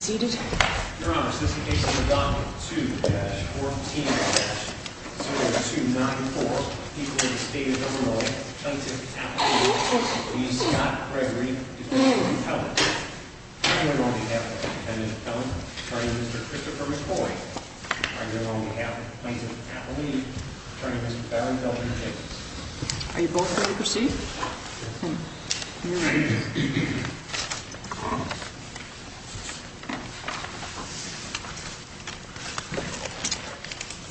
Seated. Your Honor, since the case is adopted, 2-14-0294, people in the state of Illinois, plaintiff, appellee, please stop Gregory, defendant, and appellant. On your own behalf, defendant, appellant, attorney, Mr. Christopher McCoy. On your own behalf, plaintiff, appellee, Are you both ready to proceed? You may be seated.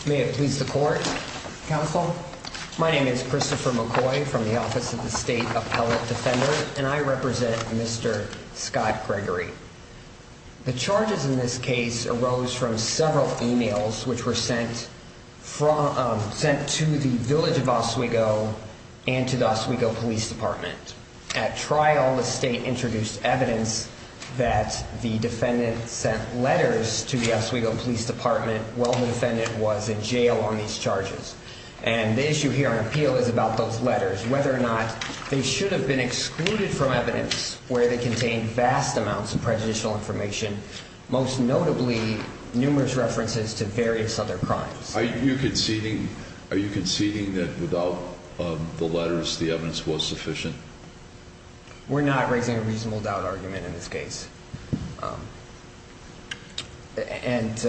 May it please the court, counsel? My name is Christopher McCoy from the Office of the State Appellate Defender, and I represent Mr. Scott Gregory. The charges in this case arose from several e-mails which were sent to the village of Oswego and to the Oswego Police Department. At trial, the state introduced evidence that the defendant sent letters to the Oswego Police Department while the defendant was in jail on these charges. And the issue here on appeal is about those letters, whether or not they should have been excluded from evidence where they contained vast amounts of prejudicial information, most notably numerous references to various other crimes. Are you conceding that without the letters, the evidence was sufficient? We're not raising a reasonable doubt argument in this case. And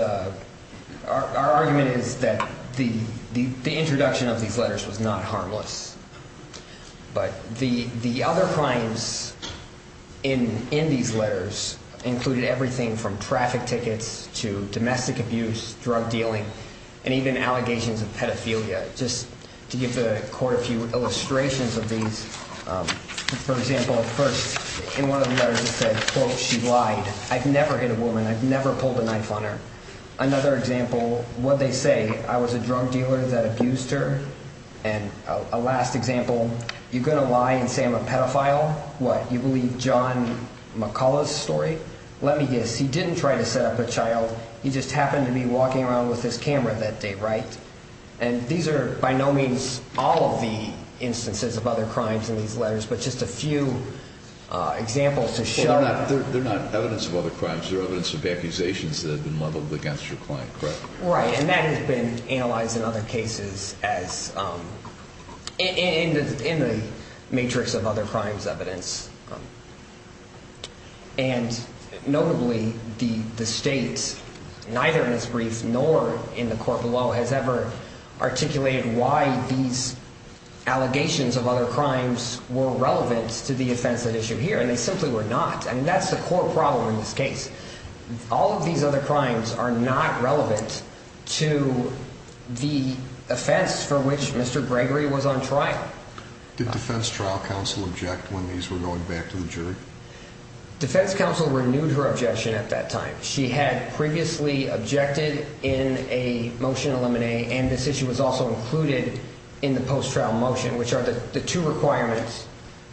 our argument is that the introduction of these letters was not harmless. But the other crimes in these letters included everything from traffic tickets to domestic abuse, drug dealing, and even allegations of pedophilia. Just to give the court a few illustrations of these. For example, first, in one of the letters it said, quote, she lied. I've never hit a woman. I've never pulled a knife on her. Another example, what they say, I was a drug dealer that abused her and a last example, you're going to lie and say I'm a pedophile? What, you believe John McCullough's story? Let me guess, he didn't try to set up a child. He just happened to be walking around with his camera that day, right? And these are by no means all of the instances of other crimes in these letters, but just a few examples to show. They're not evidence of other crimes. They're evidence of accusations that have been leveled against your client, correct? Right, and that has been analyzed in other cases as in the matrix of other crimes evidence. And notably, the state, neither in its brief nor in the court below, has ever articulated why these allegations of other crimes were relevant to the offense at issue here, and they simply were not, and that's the core problem in this case. All of these other crimes are not relevant to the offense for which Mr. Gregory was on trial. Did defense trial counsel object when these were going back to the jury? Defense counsel renewed her objection at that time. She had previously objected in a motion of limine, and this issue was also included in the post-trial motion, which are the two requirements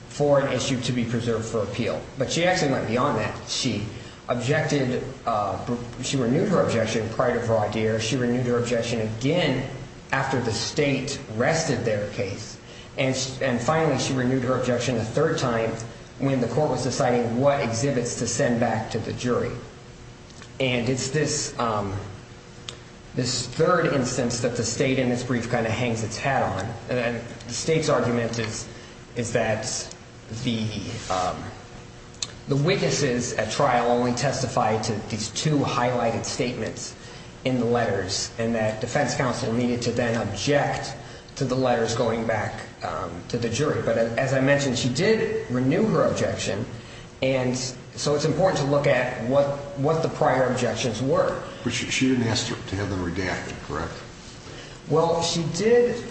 for an issue to be preserved for appeal. But she actually went beyond that. She objected, she renewed her objection prior to her idea, she renewed her objection again after the state rested their case, and finally she renewed her objection a third time when the court was deciding what exhibits to send back to the jury. And it's this third instance that the state in this brief kind of hangs its hat on. The state's argument is that the witnesses at trial only testified to these two highlighted statements in the letters and that defense counsel needed to then object to the letters going back to the jury. But as I mentioned, she did renew her objection, and so it's important to look at what the prior objections were. But she didn't ask to have them redacted, correct? Well, she did.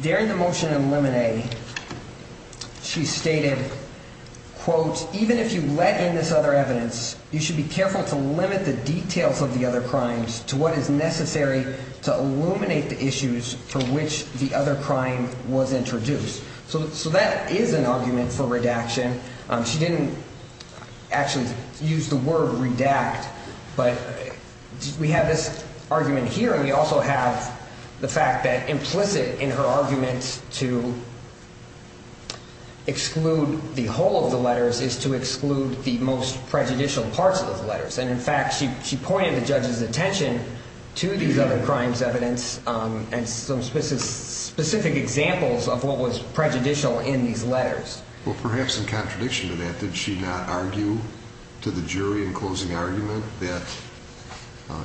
During the motion in limine, she stated, quote, even if you let in this other evidence, you should be careful to limit the details of the other crimes to what is necessary to illuminate the issues to which the other crime was introduced. So that is an argument for redaction. She didn't actually use the word redact, but we have this argument here, and we also have the fact that implicit in her argument to exclude the whole of the letters is to exclude the most prejudicial parts of the letters. And, in fact, she pointed the judge's attention to these other crimes' evidence and some specific examples of what was prejudicial in these letters. Well, perhaps in contradiction to that, did she not argue to the jury in closing argument that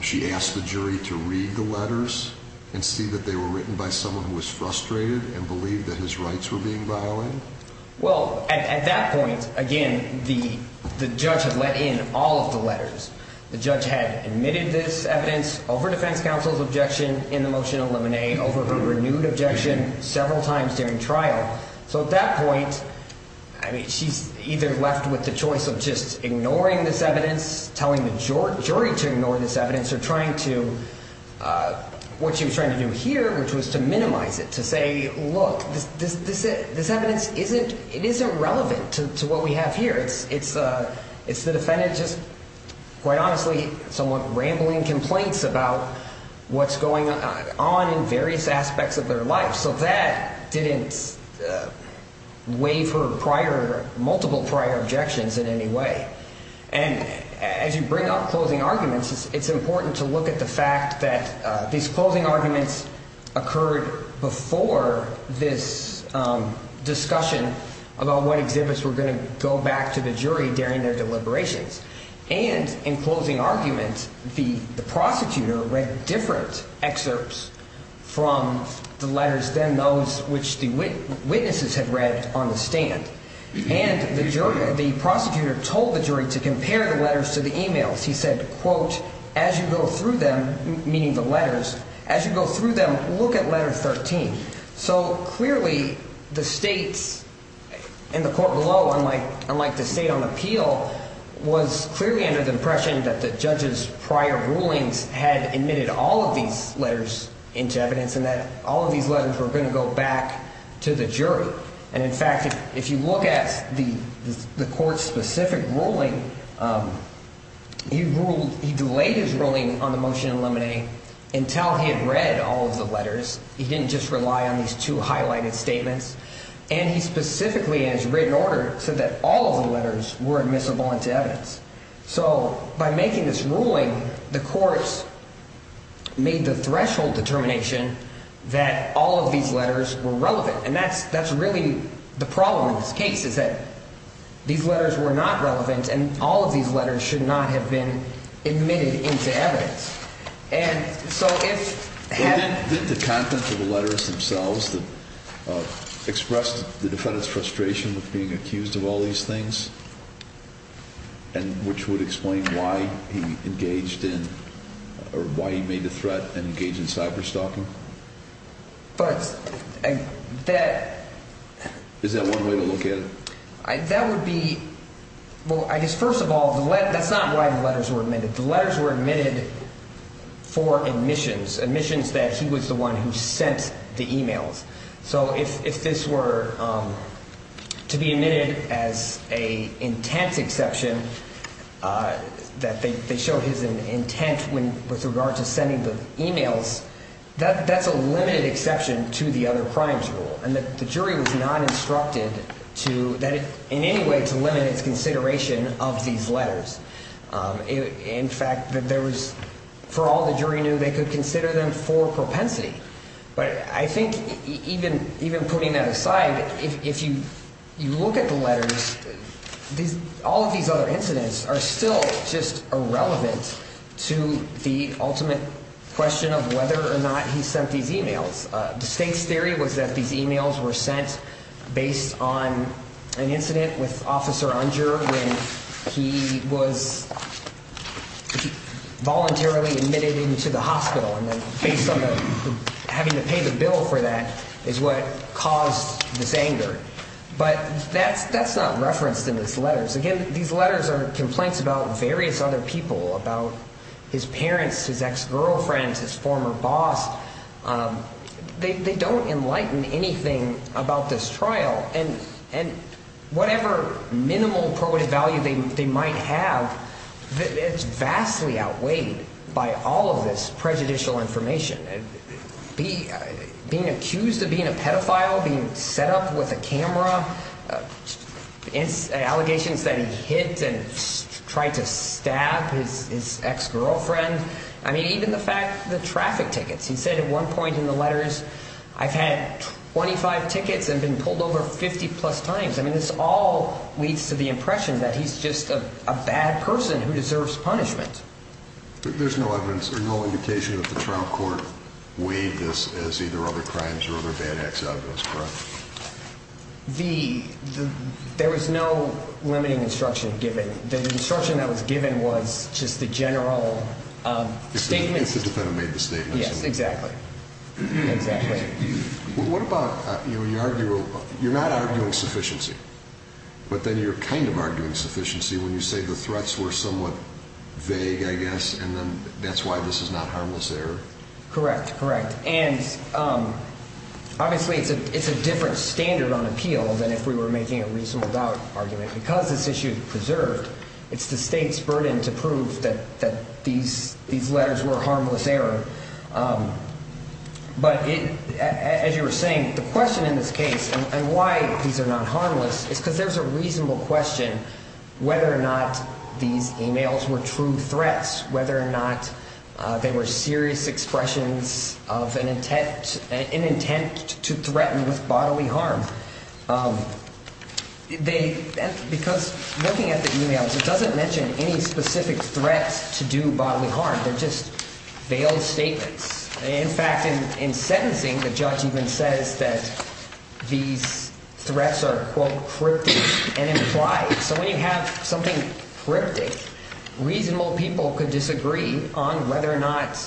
she asked the jury to read the letters and see that they were written by someone who was frustrated and believed that his rights were being violated? Well, at that point, again, the judge had let in all of the letters. The judge had admitted this evidence over defense counsel's objection in the motion in limine, over her renewed objection several times during trial. So at that point, I mean, she's either left with the choice of just ignoring this evidence, telling the jury to ignore this evidence, or trying to what she was trying to do here, which was to minimize it, to say, look, this evidence isn't relevant to what we have here. It's the defendant just, quite honestly, somewhat rambling complaints about what's going on in various aspects of their life. So that didn't waive her multiple prior objections in any way. And as you bring up closing arguments, it's important to look at the fact that these closing arguments occurred before this discussion about what exhibits were going to go back to the jury during their deliberations. And in closing arguments, the prosecutor read different excerpts from the letters than those which the witnesses had read on the stand. And the prosecutor told the jury to compare the letters to the e-mails. He said, quote, as you go through them, meaning the letters, as you go through them, look at letter 13. So clearly the states and the court below, unlike the state on appeal, was clearly under the impression that the judge's prior rulings had admitted all of these letters into evidence and that all of these letters were going to go back to the jury. And, in fact, if you look at the court's specific ruling, he delayed his ruling on the motion to eliminate until he had read all of the letters. He didn't just rely on these two highlighted statements. And he specifically, in his written order, said that all of the letters were admissible into evidence. So by making this ruling, the courts made the threshold determination that all of these letters were relevant. And that's really the problem in this case is that these letters were not relevant and all of these letters should not have been admitted into evidence. And so if had. Did the contents of the letters themselves that expressed the defendant's frustration with being accused of all these things and which would explain why he engaged in or why he made the threat and engaged in cyberstalking? But that. Is that one way to look at it? That would be. Well, I guess first of all, that's not why the letters were admitted. The letters were admitted for admissions, admissions that he was the one who sent the e-mails. So if this were to be admitted as a intent exception that they show his intent with regard to sending the e-mails, that's a limited exception to the other crimes rule. And the jury was not instructed to that in any way to limit its consideration of these letters. In fact, there was for all the jury knew they could consider them for propensity. But I think even even putting that aside, if you look at the letters, these all of these other incidents are still just irrelevant to the ultimate question of whether or not he sent these e-mails. The state's theory was that these e-mails were sent based on an incident with Officer Unger when he was voluntarily admitted into the hospital. And then based on having to pay the bill for that is what caused this anger. But that's that's not referenced in these letters. Again, these letters are complaints about various other people, about his parents, his ex-girlfriend, his former boss. They don't enlighten anything about this trial. And and whatever minimal probative value they might have, it's vastly outweighed by all of this prejudicial information. Being accused of being a pedophile, being set up with a camera. It's allegations that he hit and tried to stab his ex-girlfriend. I mean, even the fact the traffic tickets, he said at one point in the letters, I've had twenty five tickets and been pulled over 50 plus times. I mean, this all leads to the impression that he's just a bad person who deserves punishment. There's no evidence or no indication that the trial court weighed this as either other crimes or other bad acts out of this, correct? The there was no limiting instruction given. The instruction that was given was just the general statements. The defendant made the statement. Yes, exactly. Exactly. What about you argue? You're not arguing sufficiency, but then you're kind of arguing sufficiency when you say the threats were somewhat vague, I guess. And then that's why this is not harmless error. Correct. Correct. And obviously it's a it's a different standard on appeal than if we were making a reasonable doubt argument because this issue is preserved. It's the state's burden to prove that that these these letters were harmless error. But as you were saying, the question in this case and why these are not harmless is because there's a reasonable question whether or not these emails were true threats, whether or not they were serious expressions of an intent, an intent to threaten with bodily harm. They because looking at the emails, it doesn't mention any specific threats to do bodily harm. They're just veiled statements. In fact, in in sentencing, the judge even says that these threats are, quote, cryptic and implied. So when you have something cryptic, reasonable people could disagree on whether or not.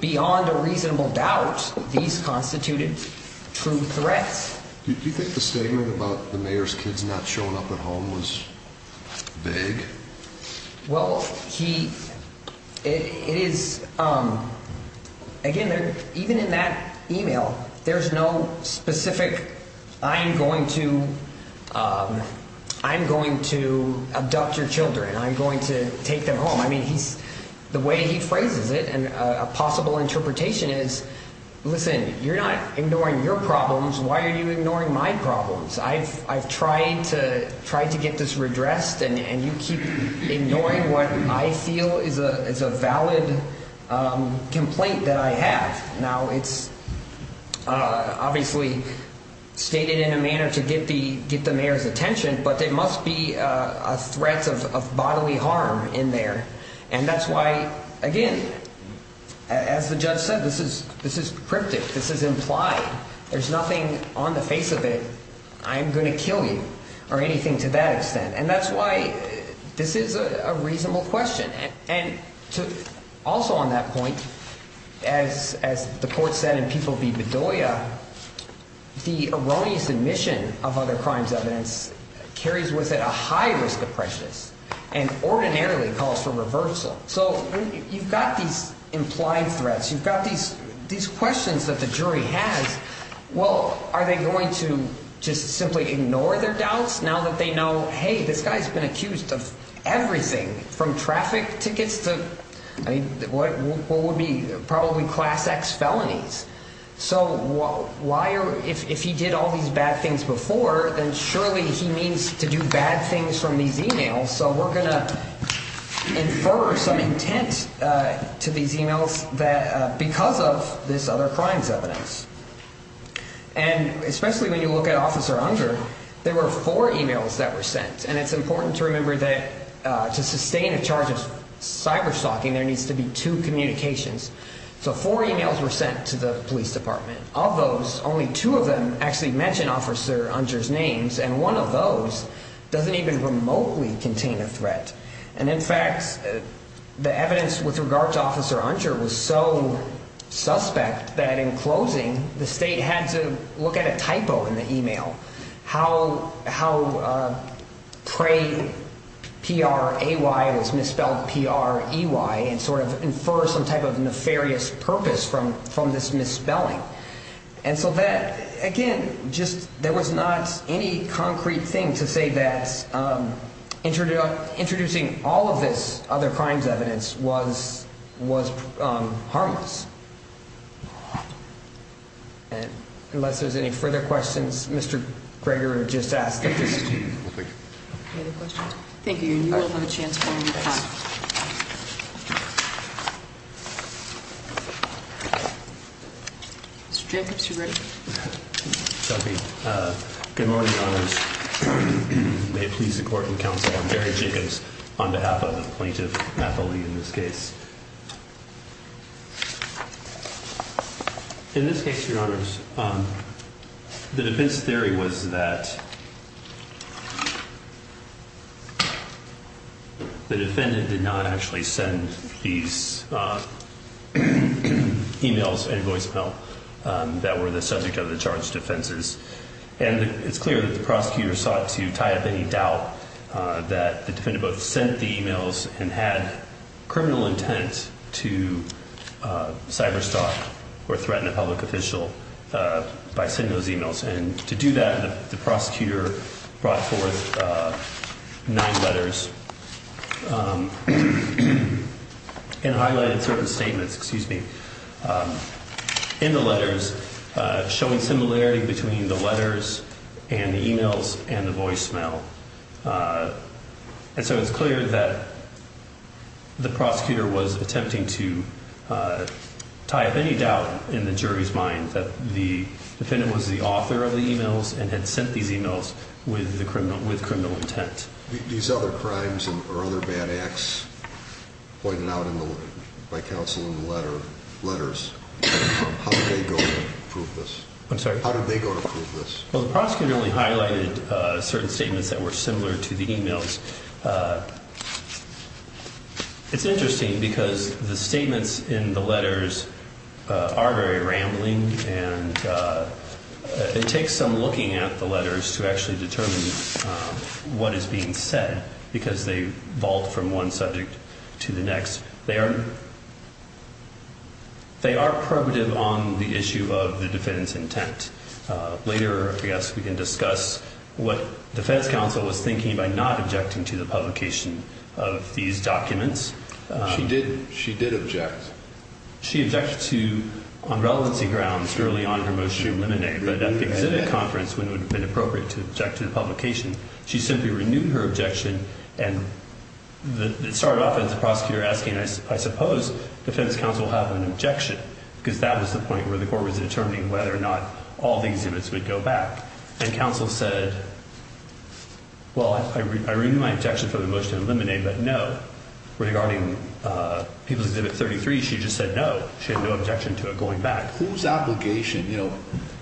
Beyond a reasonable doubt, these constituted true threats. Do you think the statement about the mayor's kids not showing up at home was vague? Well, he it is again, even in that email, there's no specific. I'm going to I'm going to abduct your children. I'm going to take them home. I mean, he's the way he phrases it. And a possible interpretation is, listen, you're not ignoring your problems. Why are you ignoring my problems? I've I've tried to try to get this redressed. And you keep ignoring what I feel is a valid complaint that I have now. It's obviously stated in a manner to get the get the mayor's attention. But there must be a threat of bodily harm in there. And that's why, again, as the judge said, this is this is cryptic. This is implied. There's nothing on the face of it. I'm going to kill you or anything to that extent. And that's why this is a reasonable question. And to also on that point, as as the court said, and people be Bedoya, the erroneous admission of other crimes, evidence carries with it a high risk of prejudice and ordinarily calls for reversal. So you've got these implied threats. You've got these these questions that the jury has. Well, are they going to just simply ignore their doubts now that they know, hey, this guy's been accused of everything from traffic tickets to what would be probably class X felonies? So why? If he did all these bad things before, then surely he means to do bad things from these emails. So we're going to infer some intent to these emails that because of this other crimes evidence. And especially when you look at Officer Unger, there were four emails that were sent. And it's important to remember that to sustain a charge of cyber stalking, there needs to be two communications. So four emails were sent to the police department. Of those, only two of them actually mention Officer Unger's names. And one of those doesn't even remotely contain a threat. And in fact, the evidence with regard to Officer Unger was so suspect that in closing, the state had to look at a typo in the email. How pray P-R-A-Y was misspelled P-R-E-Y and sort of infer some type of nefarious purpose from this misspelling. And so that, again, just there was not any concrete thing to say that introducing all of this other crimes evidence was harmless. And unless there's any further questions, Mr. Gregor, just ask. Thank you. Thank you. You will have a chance. Mr. Jacobs, you're ready. Good morning. May it please the court and counsel, I'm Jerry Jacobs on behalf of the plaintiff, Natalie, in this case. In this case, your honors, the defense theory was that the defendant did not actually send these emails and voicemail that were the subject of the charged offenses. And it's clear that the prosecutor sought to tie up any doubt that the defendant both sent the emails and had criminal intent to cyberstalk or threaten a public official by sending those emails. And to do that, the prosecutor brought forth nine letters and highlighted certain statements, excuse me, in the letters showing similarity between the letters and the emails and the voicemail. And so it's clear that the prosecutor was attempting to tie up any doubt in the jury's mind that the defendant was the author of the emails and had sent these emails with criminal intent. These other crimes or other bad acts pointed out by counsel in the letters, how did they go to prove this? I'm sorry? How did they go to prove this? Well, the prosecutor only highlighted certain statements that were similar to the emails. It's interesting because the statements in the letters are very rambling and it takes some looking at the letters to actually determine what is being said because they vault from one subject to the next. They are probative on the issue of the defendant's intent. Later, I guess, we can discuss what defense counsel was thinking by not objecting to the publication of these documents. She did object. She objected to, on relevancy grounds, really on her motion to eliminate. But at the exhibit conference, when it would have been appropriate to object to the publication, she simply renewed her objection. And it started off as the prosecutor asking, I suppose, defense counsel have an objection. Because that was the point where the court was determining whether or not all these exhibits would go back. And counsel said, well, I renew my objection for the motion to eliminate, but no. Regarding People's Exhibit 33, she just said no. She had no objection to it going back. Whose obligation? You know,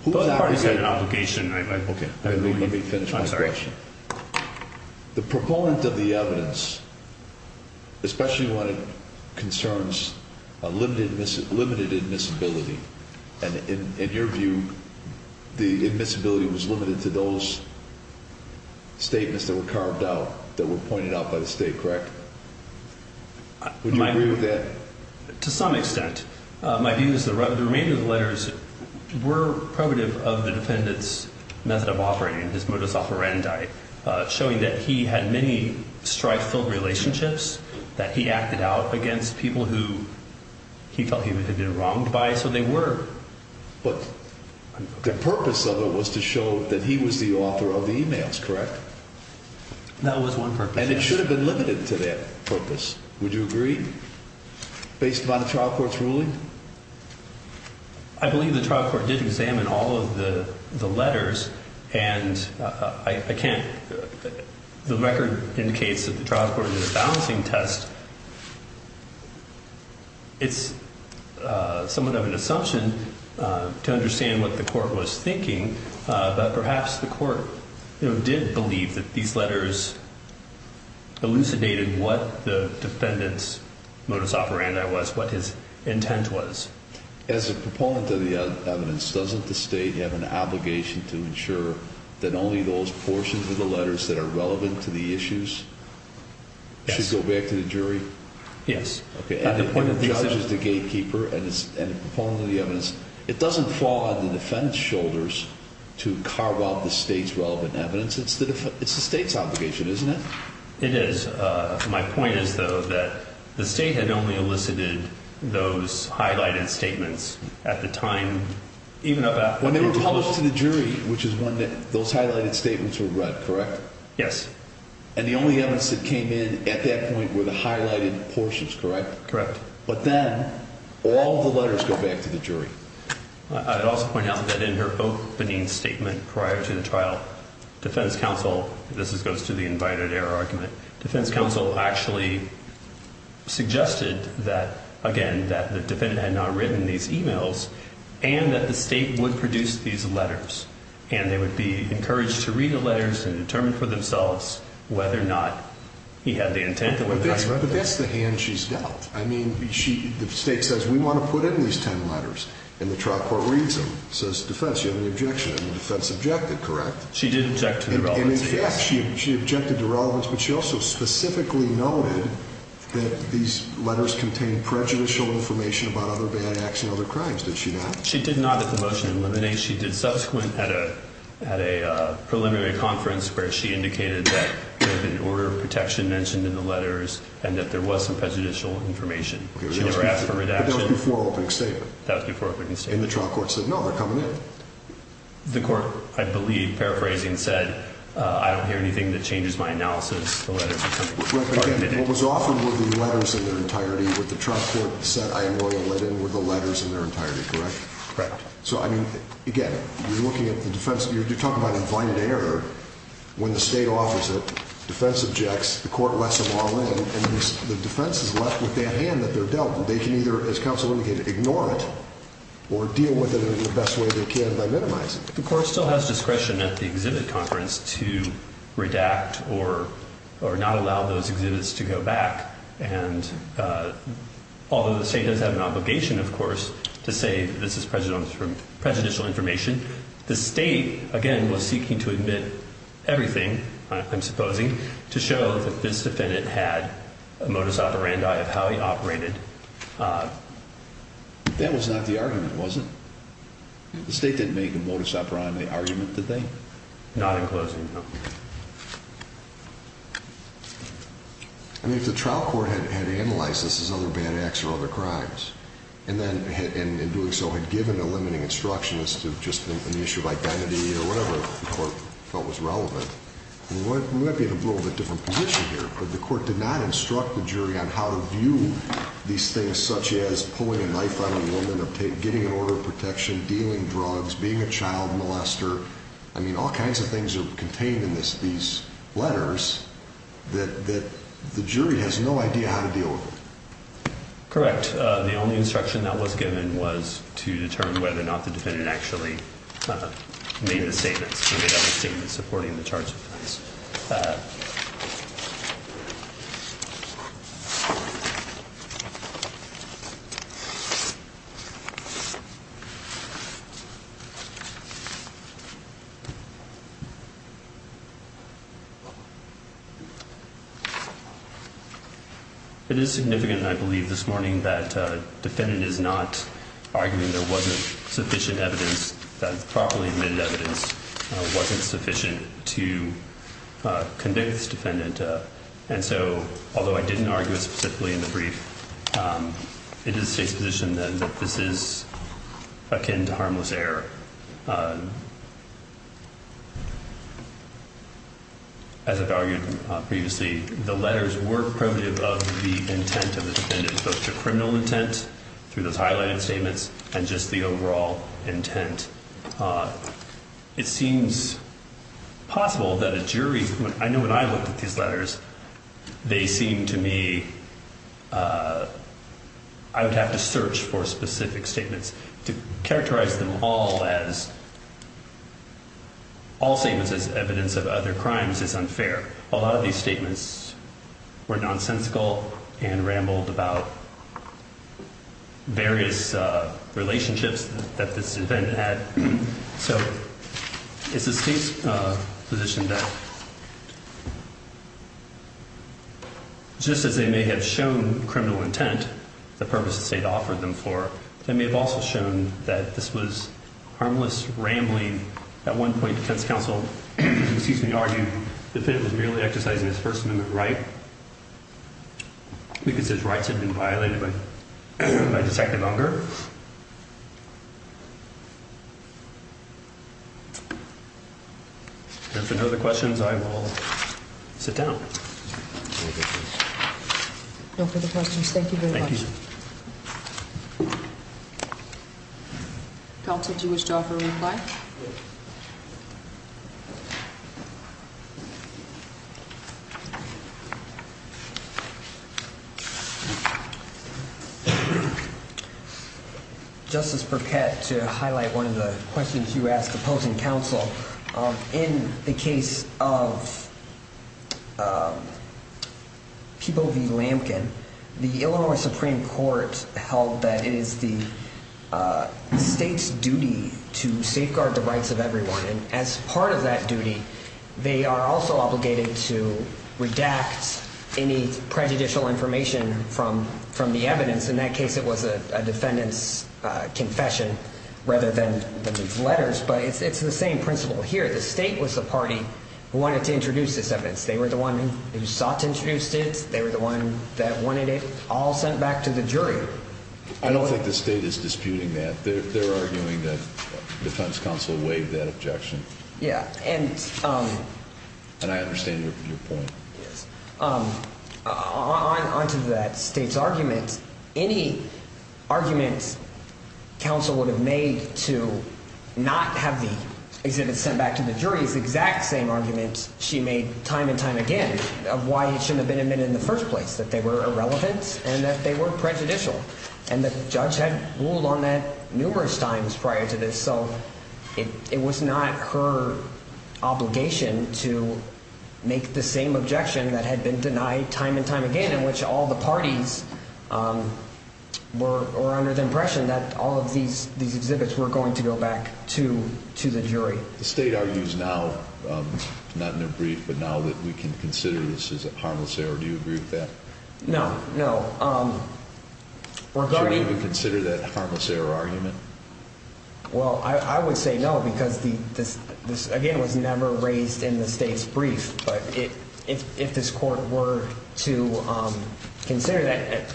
whose obligation? I already said obligation. Okay. Let me finish my question. I'm sorry. The proponent of the evidence, especially when it concerns a limited admissibility, and in your view, the admissibility was limited to those statements that were carved out, that were pointed out by the state, correct? Would you agree with that? To some extent. My view is the remainder of the letters were probative of the defendant's method of operating, his modus operandi, showing that he had many strife-filled relationships, that he acted out against people who he felt he had been wronged by. So they were. But the purpose of it was to show that he was the author of the emails, correct? That was one purpose. And it should have been limited to that purpose. Would you agree? Based upon the trial court's ruling? I believe the trial court did examine all of the letters, and I can't – the record indicates that the trial court did a balancing test. It's somewhat of an assumption to understand what the court was thinking, but perhaps the court did believe that these letters elucidated what the defendant's modus operandi was, what his intent was. As a proponent of the evidence, doesn't the state have an obligation to ensure that only those portions of the letters that are relevant to the issues should go back to the jury? Yes. And the judge is the gatekeeper, and as a proponent of the evidence, it doesn't fall on the defendant's shoulders to carve out the state's relevant evidence. It's the state's obligation, isn't it? It is. My point is, though, that the state had only elicited those highlighted statements at the time, even about – When they were published to the jury, which is when those highlighted statements were read, correct? Yes. And the only evidence that came in at that point were the highlighted portions, correct? Correct. But then all the letters go back to the jury. I would also point out that in her opening statement prior to the trial, defense counsel – this goes to the invited error argument – defense counsel actually suggested that, again, that the defendant had not written these emails, and that the state would produce these letters, and they would be encouraged to read the letters and determine for themselves whether or not he had the intent. But that's the hand she's dealt. I mean, the state says, we want to put in these 10 letters, and the trial court reads them. It says, defense, you have any objection? And the defense objected, correct? She did object to the relevance. And in fact, she objected to relevance, but she also specifically noted that these letters contained prejudicial information about other bad acts and other crimes. Did she not? She did not at the motion in limine. I think she did subsequent at a preliminary conference where she indicated that there had been an order of protection mentioned in the letters and that there was some prejudicial information. She never asked for redaction. That was before opening statement. That was before opening statement. And the trial court said, no, they're coming in. The court, I believe, paraphrasing, said, I don't hear anything that changes my analysis of the letters. What was offered were the letters in their entirety. What the trial court said, I am loyal, let in, were the letters in their entirety, correct? Correct. So, I mean, again, you're looking at the defense. You're talking about an infinite error when the state offers it, defense objects, the court lets them all in, and the defense is left with that hand that they're dealt. They can either, as counsel indicated, ignore it or deal with it in the best way they can by minimizing it. The court still has discretion at the exhibit conference to redact or not allow those exhibits to go back. And although the state does have an obligation, of course, to say this is prejudicial information, the state, again, was seeking to admit everything, I'm supposing, to show that this defendant had a modus operandi of how he operated. That was not the argument, was it? The state didn't make a modus operandi argument, did they? Not in closing, no. I mean, if the trial court had analyzed this as other bad acts or other crimes and then in doing so had given a limiting instruction as to just an issue of identity or whatever the court felt was relevant, we might be in a little bit different position here, but the court did not instruct the jury on how to view these things such as pulling a knife on a woman or getting an order of protection, dealing drugs, being a child molester. I mean, all kinds of things are contained in these letters that the jury has no idea how to deal with. Correct. The only instruction that was given was to determine whether or not the defendant actually made a statement supporting the charge of crimes. It is significant, I believe, this morning that the defendant is not arguing there wasn't sufficient evidence, that properly admitted evidence wasn't sufficient to convict this defendant. And so although I didn't argue it specifically in the brief, it is the state's position then that this is akin to harmless error. As I've argued previously, the letters were primitive of the intent of the defendant, both the criminal intent through those highlighted statements and just the overall intent. It seems possible that a jury, I know when I looked at these letters, they seemed to me, I would have to search for specific statements to characterize them all as, all statements as evidence of other crimes is unfair. A lot of these statements were nonsensical and rambled about various relationships that this defendant had. So it's the state's position that just as they may have shown criminal intent, the purpose the state offered them for, they may have also shown that this was harmless rambling. At one point, defense counsel, excuse me, argued the defendant was merely exercising his First Amendment right. We consider his rights had been violated by Detective Unger. If there are no other questions, I will sit down. No further questions. Thank you very much. Thank you. Counsel, did you wish to offer a reply? It is the state's duty to safeguard the rights of everyone. And as part of that duty, they are also obligated to redact any prejudicial information from the evidence. In that case, it was a defendant's confession rather than these letters. But it's the same principle here. The state was the party who wanted to introduce this evidence. They were the one who sought to introduce it. They were the one that wanted it all sent back to the jury. I don't think the state is disputing that. They're arguing that defense counsel waived that objection. Yeah. And I understand your point. Yes. On to that state's argument. Any argument counsel would have made to not have the exhibit sent back to the jury is the exact same argument she made time and time again of why it shouldn't have been admitted in the first place, that they were irrelevant and that they were prejudicial. And the judge had ruled on that numerous times prior to this. So it was not her obligation to make the same objection that had been denied time and time again in which all the parties were under the impression that all of these exhibits were going to go back to the jury. The state argues now, not in a brief, but now that we can consider this as a harmless error. Do you agree with that? No. No. Should we consider that harmless error argument? Well, I would say no because this, again, was never raised in the state's brief. But if this court were to consider that,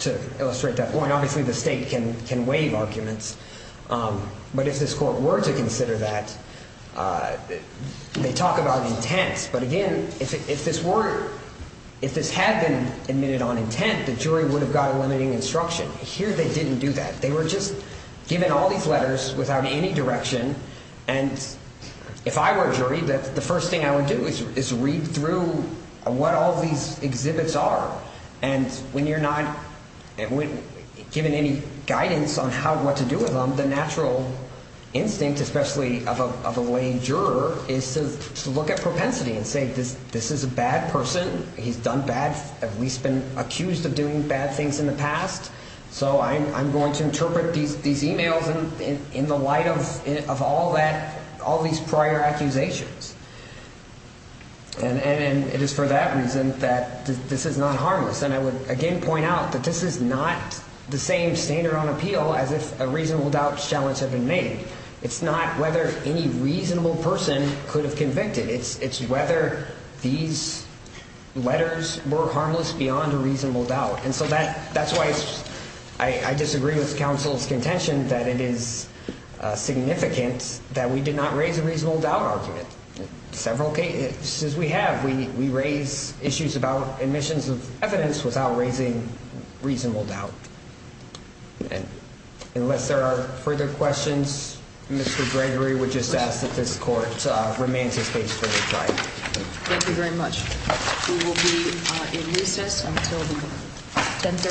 to illustrate that point, obviously the state can waive arguments. But if this court were to consider that, they talk about intent. But again, if this had been admitted on intent, the jury would have got a limiting instruction. Here they didn't do that. They were just given all these letters without any direction. And if I were a jury, the first thing I would do is read through what all these exhibits are. And when you're not given any guidance on what to do with them, the natural instinct, especially of a laying juror, is to look at propensity and say this is a bad person. He's done bad, at least been accused of doing bad things in the past. So I'm going to interpret these emails in the light of all that, all these prior accusations. And it is for that reason that this is not harmless. And I would, again, point out that this is not the same standard on appeal as if a reasonable doubt challenge had been made. It's not whether any reasonable person could have convicted. It's whether these letters were harmless beyond a reasonable doubt. And so that's why I disagree with counsel's contention that it is significant that we did not raise a reasonable doubt argument. Several cases we have, we raise issues about admissions of evidence without raising reasonable doubt. And unless there are further questions, Mr. Gregory would just ask that this court remain at this stage for the time. Thank you very much. We will be in recess until 10.30 or 11.30.